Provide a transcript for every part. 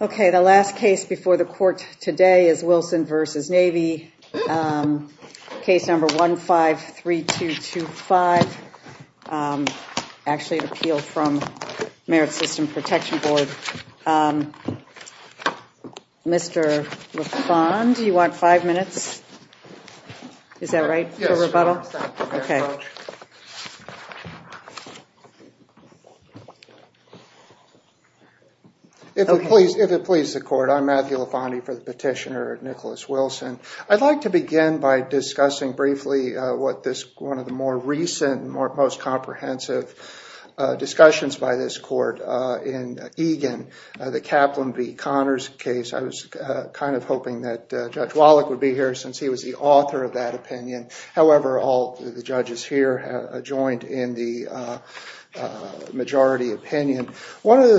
Okay, the last case before the court today is Wilson v. Navy, case number 153225, actually an appeal from Merit System Protection Board. Mr. LaFond, do you If it pleases the court, I'm Matthew LaFondi for the petitioner, Nicholas Wilson. I'd like to begin by discussing briefly what this one of the more recent, most comprehensive discussions by this court in Egan, the Kaplan v. Connors case. I was kind of hoping that Judge Wallach would be here since he was the author of that opinion. However, all the judges here have joined in the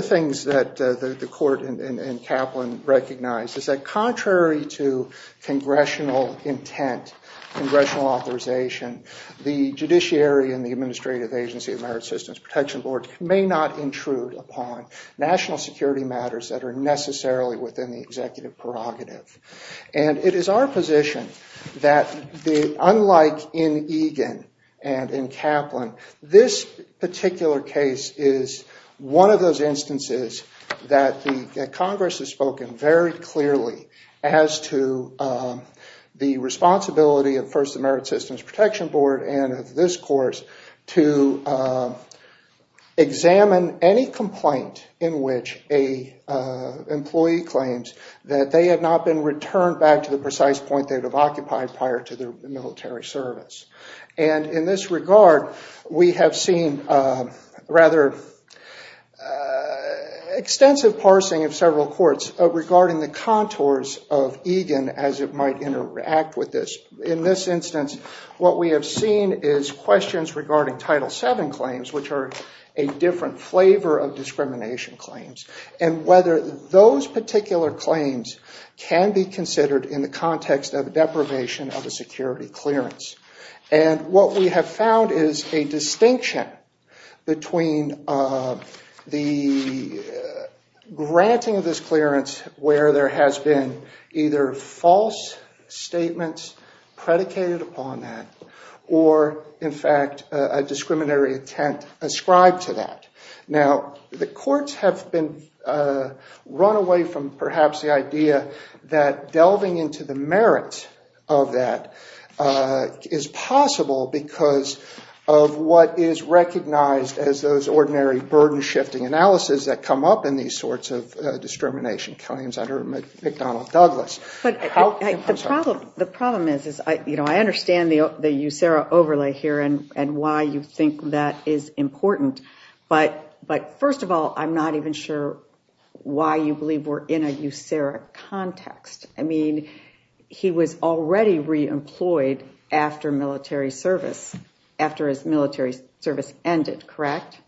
things that the court in Kaplan recognized is that contrary to congressional intent, congressional authorization, the judiciary and the Administrative Agency of Merit Systems Protection Board may not intrude upon national security matters that are necessarily within the executive prerogative. And it is our position that, unlike in Egan and in Kaplan, this is that the Congress has spoken very clearly as to the responsibility of first the Merit Systems Protection Board and of this course to examine any complaint in which a employee claims that they have not been returned back to the precise point they would have occupied prior to their military service. And in this regard, we have seen rather extensive parsing of several courts regarding the contours of Egan as it might interact with this. In this instance, what we have seen is questions regarding Title VII claims, which are a different flavor of discrimination claims, and whether those particular claims can be considered in the context of deprivation of a security clearance. And what we have found is a distinction between the granting of this clearance where there has been either false statements predicated upon that or, in fact, a discriminatory intent ascribed to that. Now, the courts have been run away from perhaps the idea that delving into the merits of that is possible because of what is recognized as those ordinary burden-shifting analysis that come up in these sorts of discrimination claims under McDonald-Douglas. The problem is, you know, I understand the USERRA overlay here and why you think that is important, but first of all, I'm not even sure why you believe we're in a USERRA context. I mean, he was already re-employed after military service, after his military service ended, correct?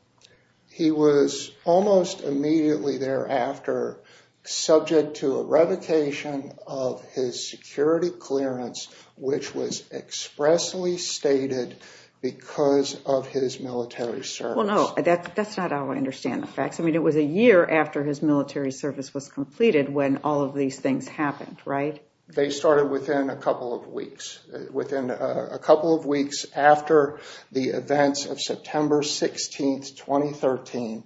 He was almost immediately thereafter subject to a revocation of his security clearance, which was expressly stated because of his military service. Well, no, that's not how I understand the facts. I mean, it was a year after his military service was completed when all of these things happened, right? They started within a couple of weeks. Within a couple of weeks after the events of September 16, 2013,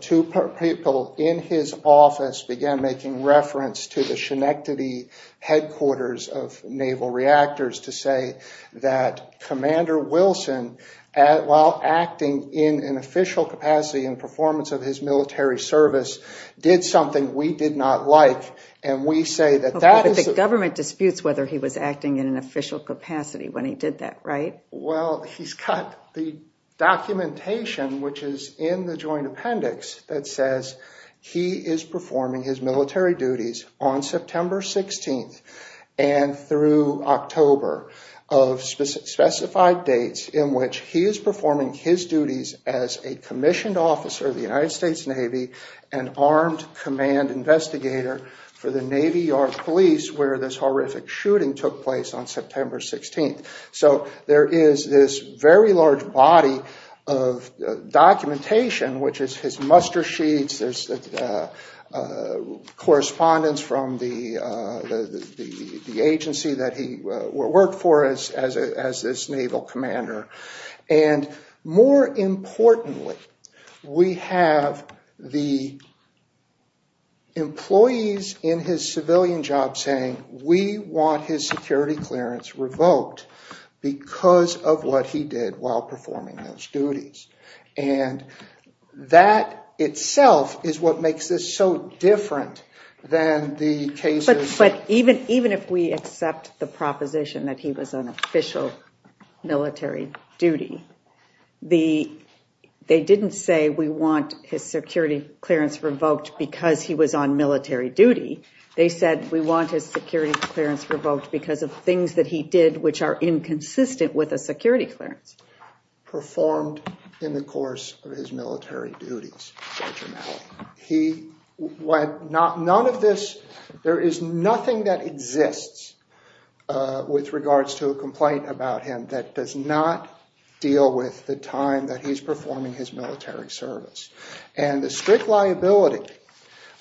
two people in his office began making reference to the Schenectady headquarters of Naval Reactors to say that Commander Wilson, while acting in an official capacity and performance of his military service, did something we did not like, and we say that that is... But the government disputes whether he was acting in an official capacity when he did that, right? Well, he's got the documentation, which is in the joint appendix, that says he is performing his military duties on September 16 and through October of specified dates in which he is the United States Navy and armed command investigator for the Navy Yard Police where this horrific shooting took place on September 16. So there is this very large body of documentation, which is his muster sheets, there's correspondence from the agency that he worked for as this naval commander. And more importantly, we have the employees in his civilian job saying, we want his security clearance revoked because of what he did while performing those duties. And that itself is what makes this so different than the cases... military duty. They didn't say, we want his security clearance revoked because he was on military duty. They said, we want his security clearance revoked because of things that he did, which are inconsistent with a security clearance. Performed in the course of his military duties. He went... None of this... There is nothing that exists with regards to a complaint about him that does not deal with the time that he's performing his military service. And the strict liability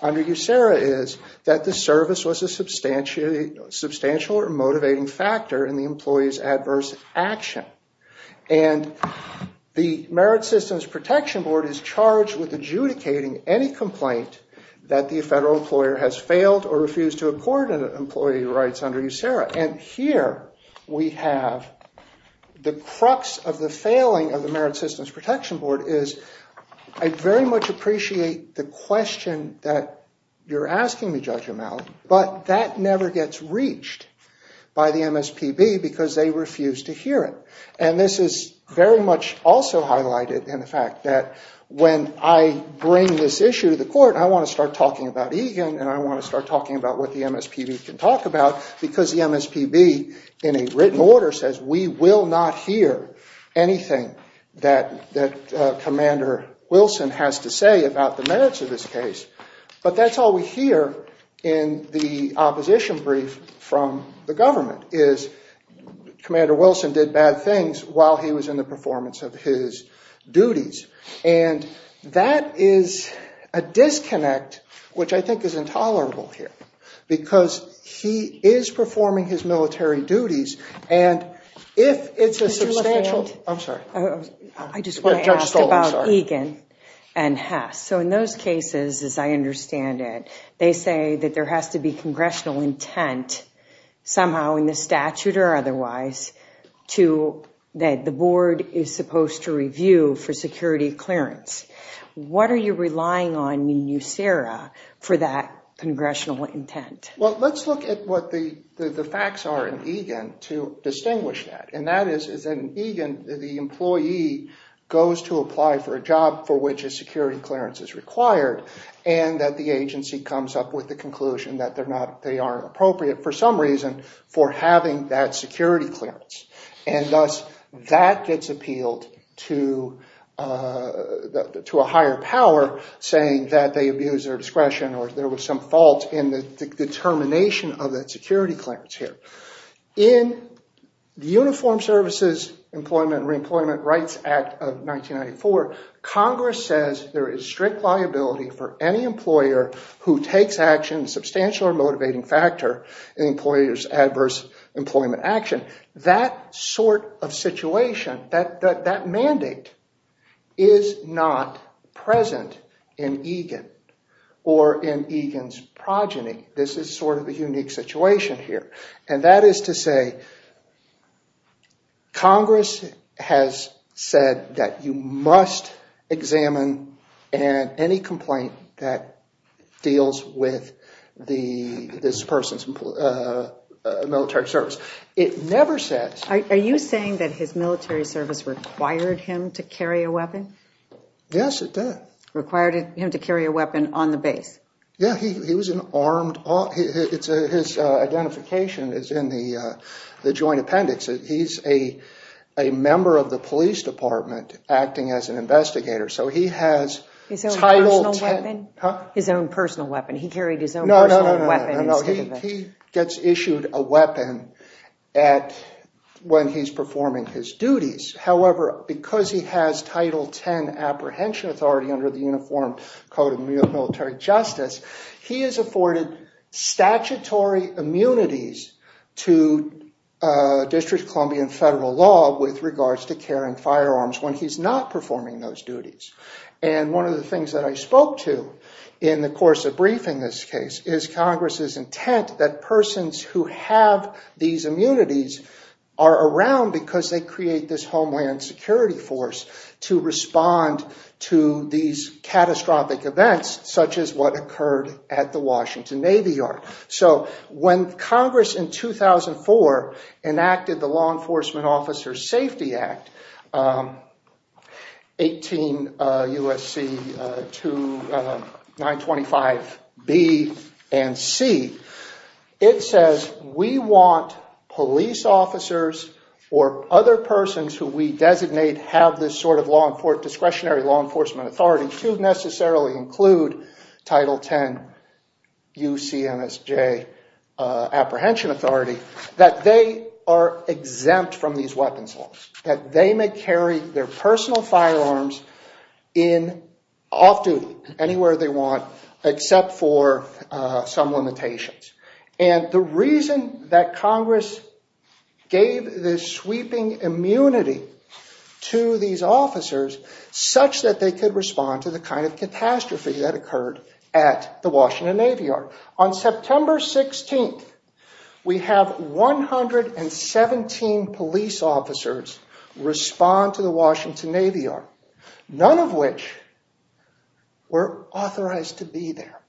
under USERRA is that the service was a substantial or motivating factor in the employee's adverse action. And the Merit Systems Protection Board is charged with adjudicating any complaint that the federal employer has failed or refused to accord an employee rights under USERRA. And here we have the crux of the failing of the Merit Systems Protection Board is, I very much appreciate the question that you're asking me, Judge O'Malley, but that never gets reached by the MSPB because they refuse to hear it. And this is very much also highlighted in the fact that when I bring this issue to the committee, I want to start talking about EGAN and I want to start talking about what the MSPB can talk about because the MSPB, in a written order, says we will not hear anything that Commander Wilson has to say about the merits of this case. But that's all we hear in the opposition brief from the government, is Commander Wilson did bad things while he was in the performance of his duties. And that is a disconnect, which I think is intolerable here because he is performing his military duties and if it's a substantial, I'm sorry. I just want to ask about EGAN and HESS. So in those cases, as I understand it, they say that there has to be congressional intent somehow in the statute or otherwise that the board is supposed to review for security clearance. What are you relying on in USERA for that congressional intent? Well, let's look at what the facts are in EGAN to distinguish that. And that is that in EGAN, the employee goes to apply for a job for which a security clearance is required and that the agency comes up with the conclusion that they aren't appropriate for some reason for having that security clearance. And thus, that gets appealed to a higher power saying that they abuse their discretion or there was some fault in the determination of that security clearance here. In the Uniform Services Employment and Reemployment Rights Act of 1994, Congress says there is an employer's adverse employment action. That sort of situation, that mandate, is not present in EGAN or in EGAN's progeny. This is sort of a unique situation here. And that is to say, Congress has said that you must examine any complaint that deals with this person's military service. It never says... Are you saying that his military service required him to carry a weapon? Yes, it did. Required him to carry a weapon on the base? Yeah, he was an armed... His identification is in the joint appendix. He's a member of the police department acting as an investigator. So he has... His own personal weapon? Huh? His own personal weapon. He carried his own personal weapon. No, no, no, no. He gets issued a weapon when he's performing his duties. However, because he has Title 10 apprehension authority under the Uniform Code of Military Justice, he is afforded statutory immunities to District of Columbia and federal law with regards to carrying firearms when he's not performing those duties. And one of the things that I spoke to in the course of briefing this case is Congress's intent that persons who have these immunities are around because they create this homeland security force to respond to these catastrophic events such as what occurred at the Washington Navy Yard. So when Congress in 2004 enacted the Law Enforcement Officers Safety Act, 18 U.S.C. 925B and C, it says we want police officers or other persons who we designate have this sort of discretionary law enforcement authority to necessarily include Title 10 U.C.M.S.J. apprehension authority that they are exempt from these weapons laws, that they may carry their personal firearms in off-duty anywhere they want except for some limitations. And the reason that Congress gave this sweeping immunity to these officers such that they could respond to the kind of catastrophe that occurred at the Washington Navy Yard. On September 16th, we have 117 police officers respond to the Washington Navy Yard, none of which were authorized to be there.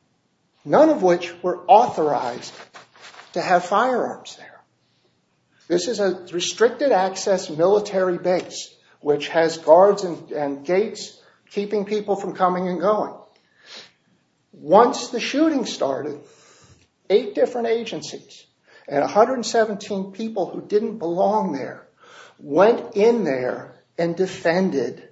None of which were authorized to have firearms there. This is a restricted access military base which has guards and gates keeping people from coming and going. Once the shooting started, eight different agencies and 117 people who didn't belong there went in there and defended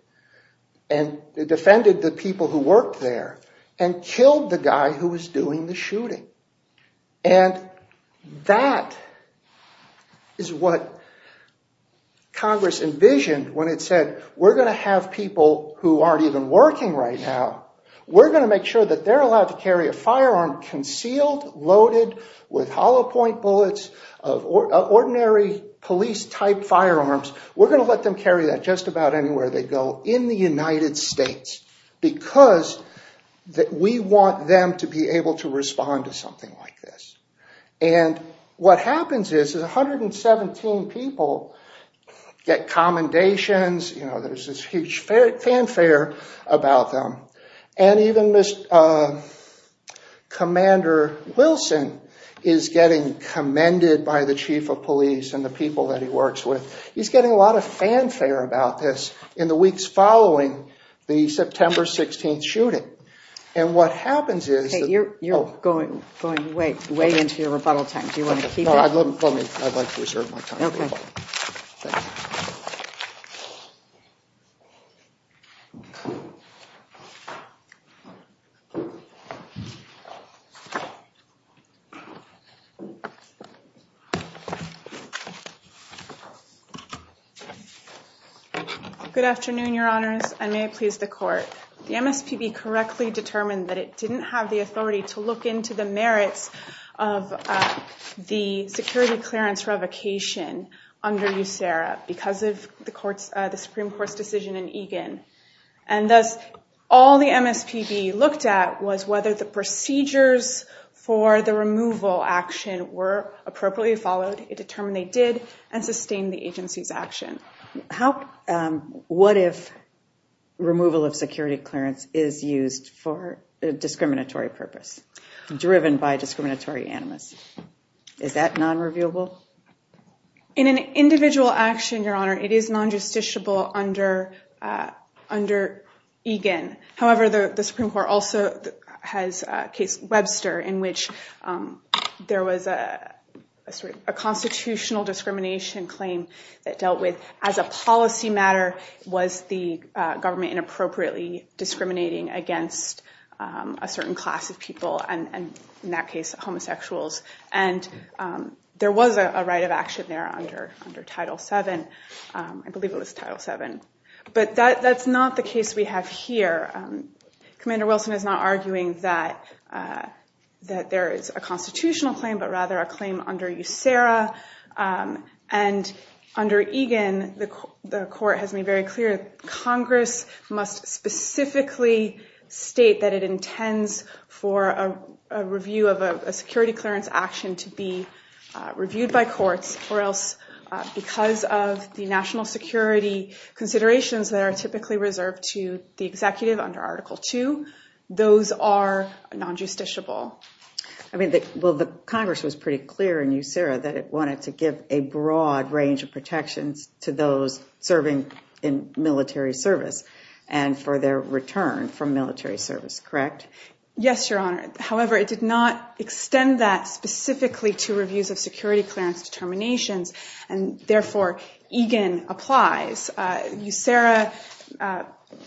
the people who worked there and killed the guy who was doing the shooting. And that is what Congress envisioned when it said we're going to have people who aren't even working right now. We're going to make sure that they're allowed to carry a firearm concealed, loaded with police-type firearms. We're going to let them carry that just about anywhere they go in the United States because we want them to be able to respond to something like this. And what happens is 117 people get commendations. There's this huge fanfare about them. And even Commander Wilson is getting commended by the chief of police and the people that he works with. He's getting a lot of fanfare about this in the weeks following the September 16th shooting. And what happens is- Hey, you're going way into your rebuttal time. Do you want to keep it? No, let me. I'd like to reserve my time for rebuttal. Okay. Thanks. Good afternoon, your honors, and may it please the court. The MSPB correctly determined that it didn't have the authority to look into the merits of the security clearance revocation under USERRA because of the Supreme Court's decision in Egan. And thus, all the MSPB looked at was whether the procedures for the removal action were appropriately followed. It determined they did and sustained the agency's action. What if removal of security clearance is used for a discriminatory purpose, driven by a discriminatory animus? Is that non-reviewable? In an individual action, your honor, it is non-justiciable under Egan. However, the Supreme Court also has a case, Webster, in which there was a constitutional discrimination claim that dealt with, as a policy matter, was the government inappropriately discriminating against a certain class of people, and in that case, homosexuals. And there was a right of action there under Title VII. I believe it was Title VII. But that's not the case we have here. Commander Wilson is not arguing that there is a constitutional claim, but rather a claim under USERRA. And under Egan, the court has made very clear Congress must specifically state that it intends for a review of a security clearance action to be reviewed by courts, or else, because of the national security considerations that are typically reserved to the executive under Article II, those are non-justiciable. I mean, well, the Congress was pretty clear in USERRA that it wanted to give a broad range of protections to those serving in military service and for their return from military service, correct? Yes, your honor. However, it did not extend that specifically to reviews of security clearance determinations, and therefore, Egan applies. USERRA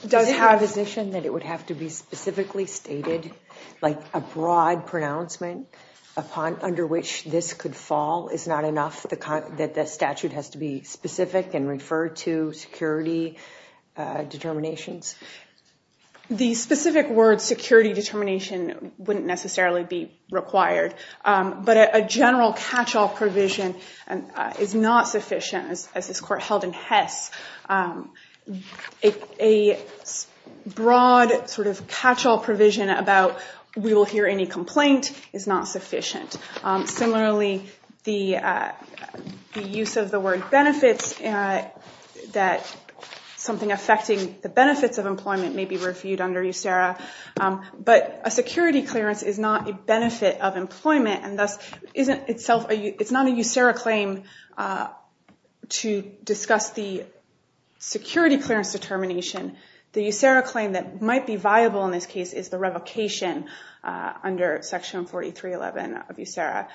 does have... A provision that it would have to be specifically stated, like a broad pronouncement under which this could fall is not enough, that the statute has to be specific and refer to security determinations? The specific word security determination wouldn't necessarily be required. But a general catch-all provision is not sufficient, as this court held in Hess. A broad sort of catch-all provision about, we will hear any complaint, is not sufficient. Similarly, the use of the word benefits, that something affecting the benefits of employment may be reviewed under USERRA. But a security clearance is not a benefit of employment, and thus, it's not a USERRA claim to discuss the security clearance determination. The USERRA claim that might be viable in this case is the revocation under section 4311 of USERRA,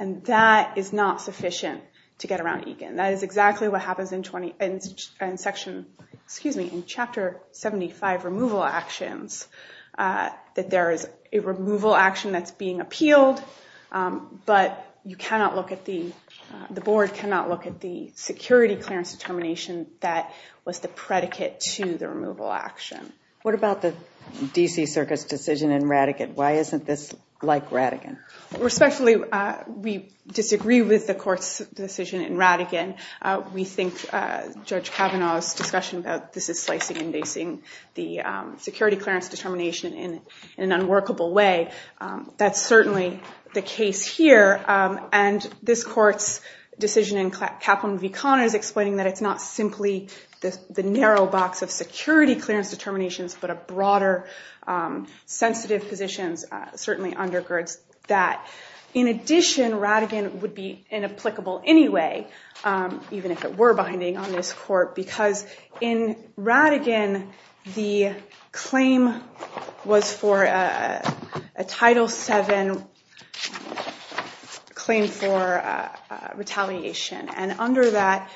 and that is not sufficient to get around Egan. That is exactly what happens in section, excuse me, in chapter 75, removal actions, that there is a removal action that's being appealed, but you cannot look at the, the board cannot look at the security clearance determination that was the predicate to the removal action. What about the DC Circuit's decision in Rattigan? Why isn't this like Rattigan? Respectfully, we disagree with the court's decision in Rattigan. We think Judge Kavanaugh's discussion about this is slicing and dicing the security clearance determination in an unworkable way. That's certainly the case here. And this court's decision in Kaplan v. Connors explaining that it's not simply the narrow box of security clearance determinations, but a broader sensitive positions, certainly undergirds that. In addition, Rattigan would be inapplicable anyway, even if it were binding on this court, because in Rattigan, the claim was for a Title VII claim for retaliation. And under that,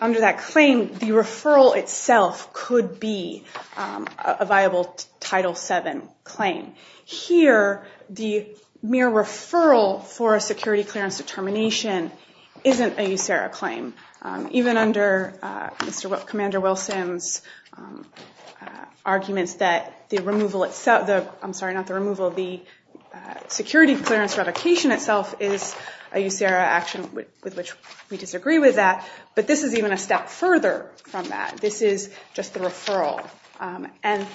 under that claim, the referral itself could be a viable Title VII claim. Here, the mere referral for a security clearance determination isn't a USERRA claim. Even under Mr. Commander Wilson's arguments that the removal itself, I'm sorry, not the removal, the security clearance revocation itself is a USERRA action with which we disagree with that. But this is even a step further from that. This is just the referral. And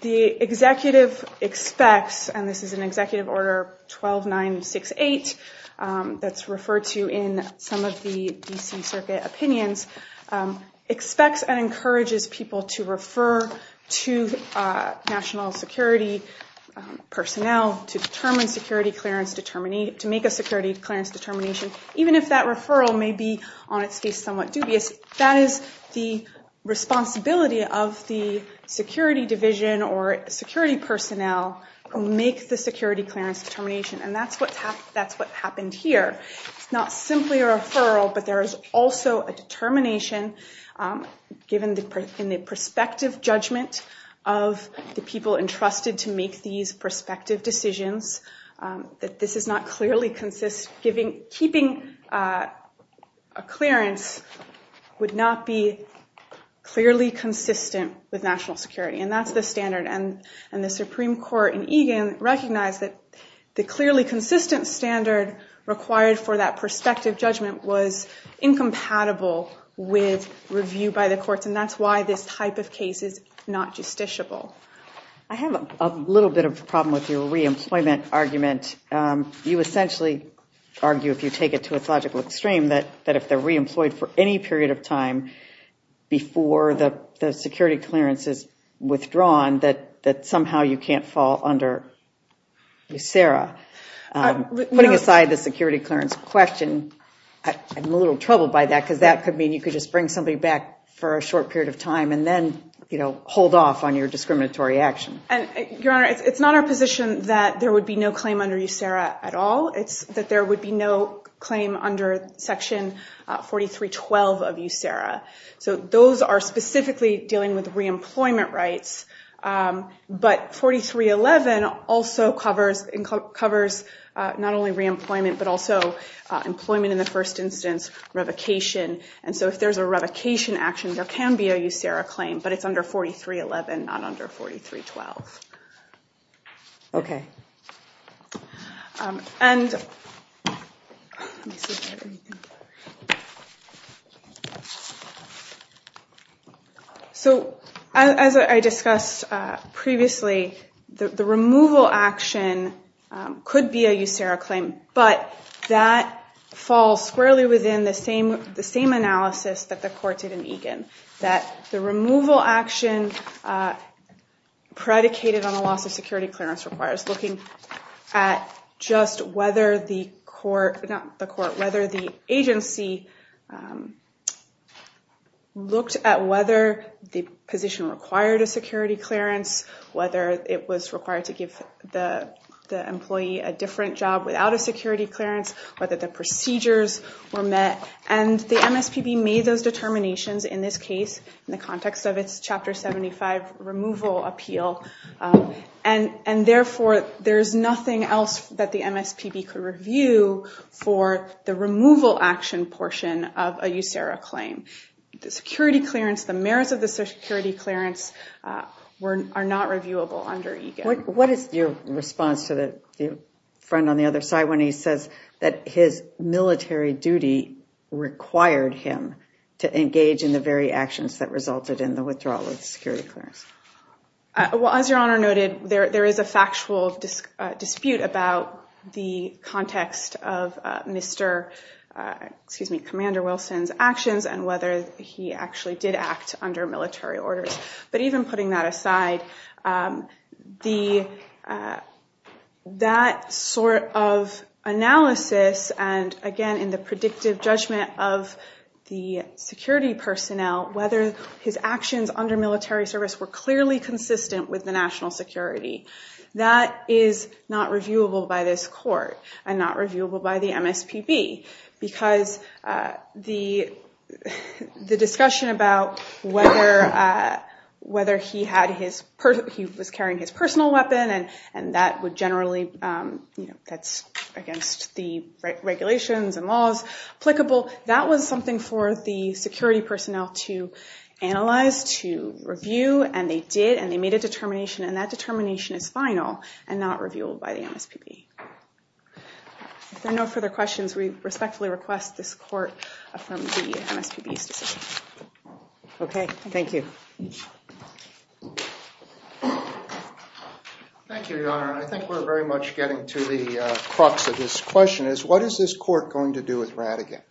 the executive expects, and this is an Executive Order 12968 that's referred to in some of the D.C. Circuit opinions, expects and encourages people to refer to national security personnel to determine security clearance, to make a security clearance determination, even if that referral may be on its face somewhat dubious. That is the responsibility of the security division or security personnel who make the security clearance determination. And that's what happened here. It's not simply a referral, but there is also a determination given in the prospective judgment of the people entrusted to make these prospective decisions that this does not clearly consist Keeping a clearance would not be clearly consistent with national security. And that's the standard. And the Supreme Court in Egan recognized that the clearly consistent standard required for that prospective judgment was incompatible with review by the courts. And that's why this type of case is not justiciable. I have a little bit of a problem with your reemployment argument. You essentially argue, if you take it to a logical extreme, that if they're reemployed for any period of time before the security clearance is withdrawn, that somehow you can't fall under USERRA. Putting aside the security clearance question, I'm a little troubled by that because that could mean you could just bring somebody back for a short period of time and then hold off on your discriminatory action. Your Honor, it's not our position that there would be no claim under USERRA at all. It's that there would be no claim under Section 4312 of USERRA. So those are specifically dealing with reemployment rights. But 4311 also covers not only reemployment, but also employment in the first instance, revocation. And so if there's a revocation action, there can be a USERRA claim. But it's under 4311, not under 4312. OK. So as I discussed previously, the removal action could be a USERRA claim. But that falls squarely within the same analysis that the court did in Egan. That the removal action predicated on a loss of security clearance requires looking at just whether the agency looked at whether the position required a security clearance, whether it was required to give the employee a different job without a security clearance, whether the procedures were met. And the MSPB made those determinations in this case in the context of its Chapter 75 removal appeal. And therefore, there is nothing else that the MSPB could review for the removal action portion of a USERRA claim. The security clearance, the merits of the security clearance are not reviewable under Egan. What is your response to the friend on the other side when he says that his military duty required him to engage in the very actions that resulted in the withdrawal of security clearance? Well, as Your Honor noted, there is a factual dispute about the context of Mr. Commander Wilson's actions and whether he actually did act under military orders. But even putting that aside, that sort of analysis and, again, in the predictive judgment of the security personnel, whether his actions under military service were clearly consistent with the national security, that is not reviewable by this court and not reviewable by the MSPB. Because the discussion about whether he was carrying his personal weapon and that would generally, that's against the regulations and laws applicable, that was something for the security personnel to analyze, to review. And they did, and they made a determination, and that determination is final and not reviewable by the MSPB. If there are no further questions, we respectfully request this court affirm the MSPB's decision. OK. Thank you. Thank you, Your Honor. I think we're very much getting to the crux of this question, is what is this court going to do with Rattigan?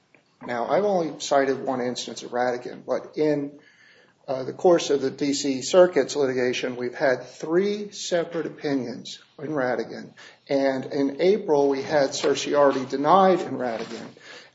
Now, I've only cited one instance of Rattigan, but in the course of the D.C. Circuit's litigation, we've had three separate opinions on Rattigan. And in April, we had Cersei already denied in Rattigan,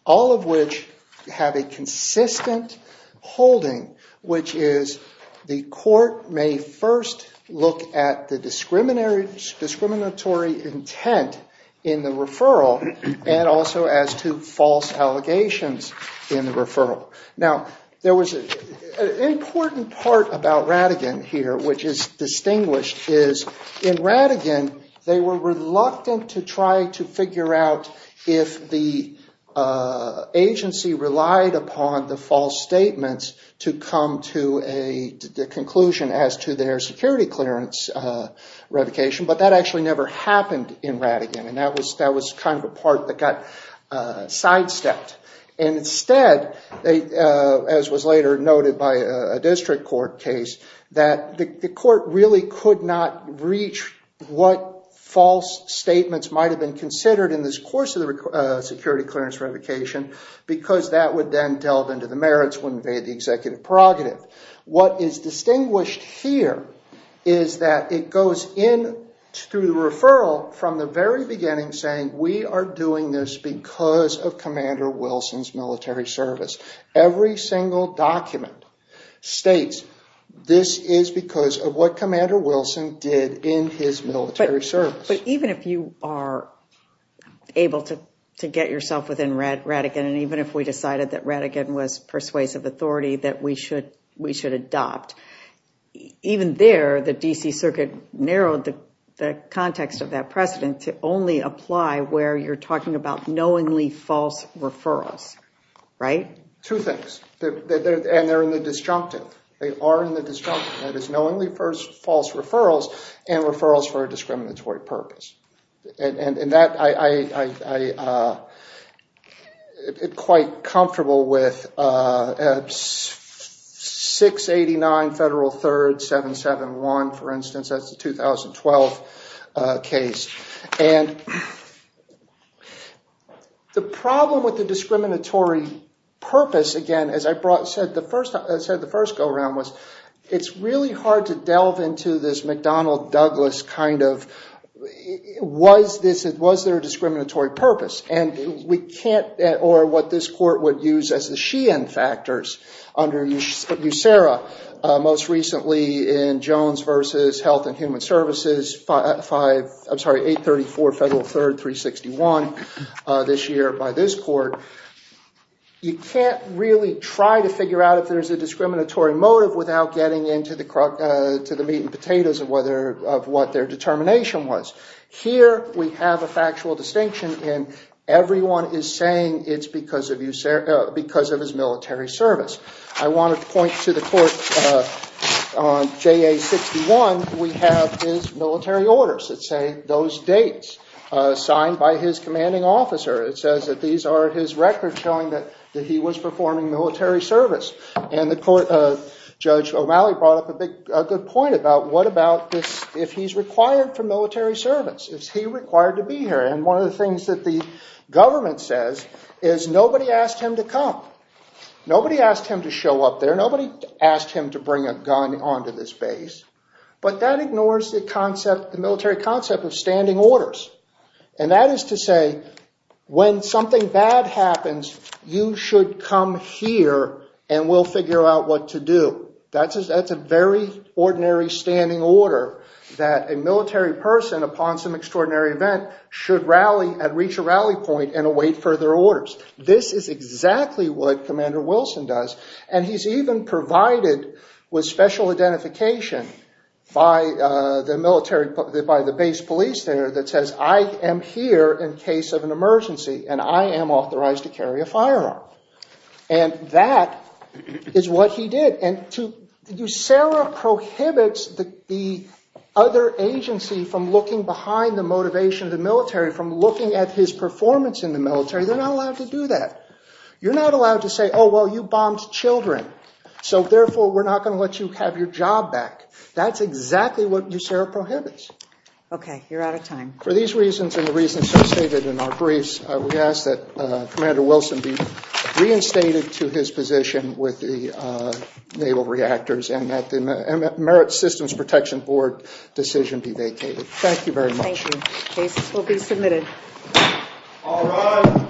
all of which have a consistent holding, which is the court may first look at the discriminatory intent in the referral and also as to false allegations in the referral. Now, there was an important part about Rattigan here, which is distinguished, is in Rattigan, they were reluctant to try to figure out if the agency relied upon the false statements to come to a conclusion as to their security clearance revocation. But that actually never happened in Rattigan, and that was kind of the part that got sidestepped. Instead, as was later noted by a district court case, that the court really could not reach what false statements might have been considered in this course of the security clearance revocation because that would then delve into the merits when they had the executive prerogative. What is distinguished here is that it goes in through the referral from the very beginning saying we are doing this because of Commander Wilson's military service. Every single document states this is because of what Commander Wilson did in his military service. But even if you are able to get yourself within Rattigan, and even if we decided that Rattigan was persuasive authority that we should adopt, even there, the D.C. Circuit narrowed the context of that precedent to only apply where you are talking about knowingly false referrals, right? Two things, and they are in the disjunctive. They are in the disjunctive, that is knowingly false referrals and referrals for a discriminatory purpose. I am quite comfortable with 689 Federal 3rd 771, for instance. That is the 2012 case. The problem with the discriminatory purpose, again, as I said the first go-around, it is really hard to delve into this McDonnell-Douglas kind of, was there a discriminatory purpose? And we can't, or what this court would use as the Sheehan factors under USERRA, most recently in Jones v. Health and Human Services, 834 Federal 3rd 361 this year by this court. You can't really try to figure out if there is a discriminatory motive without getting into the meat and potatoes of what their determination was. Here we have a factual distinction in everyone is saying it is because of his military service. I want to point to the court on JA 61. We have his military orders that say those dates, signed by his commanding officer. It says that these are his records showing that he was performing military service. Judge O'Malley brought up a good point about what about if he is required for military service? Is he required to be here? One of the things that the government says is nobody asked him to come. Nobody asked him to show up there. Nobody asked him to bring a gun onto this base. But that ignores the military concept of standing orders. That is to say when something bad happens, you should come here and we will figure out what to do. That is a very ordinary standing order that a military person upon some extraordinary event should rally and reach a rally point and await further orders. This is exactly what Commander Wilson does. He is even provided with special identification by the base police there that says I am here in case of an emergency and I am authorized to carry a firearm. That is what he did. Sarah prohibits the other agency from looking behind the motivation of the military, from looking at his performance in the military. They are not allowed to do that. You are not allowed to say you bombed children, so therefore we are not going to let you have your job back. That is exactly what Sarah prohibits. Okay, you are out of time. For these reasons and the reasons so stated in our briefs, we ask that Commander Wilson be reinstated to his position with the naval reactors and that the Merit Systems Protection Board decision be vacated. Thank you very much. Thank you. Cases will be submitted. All rise.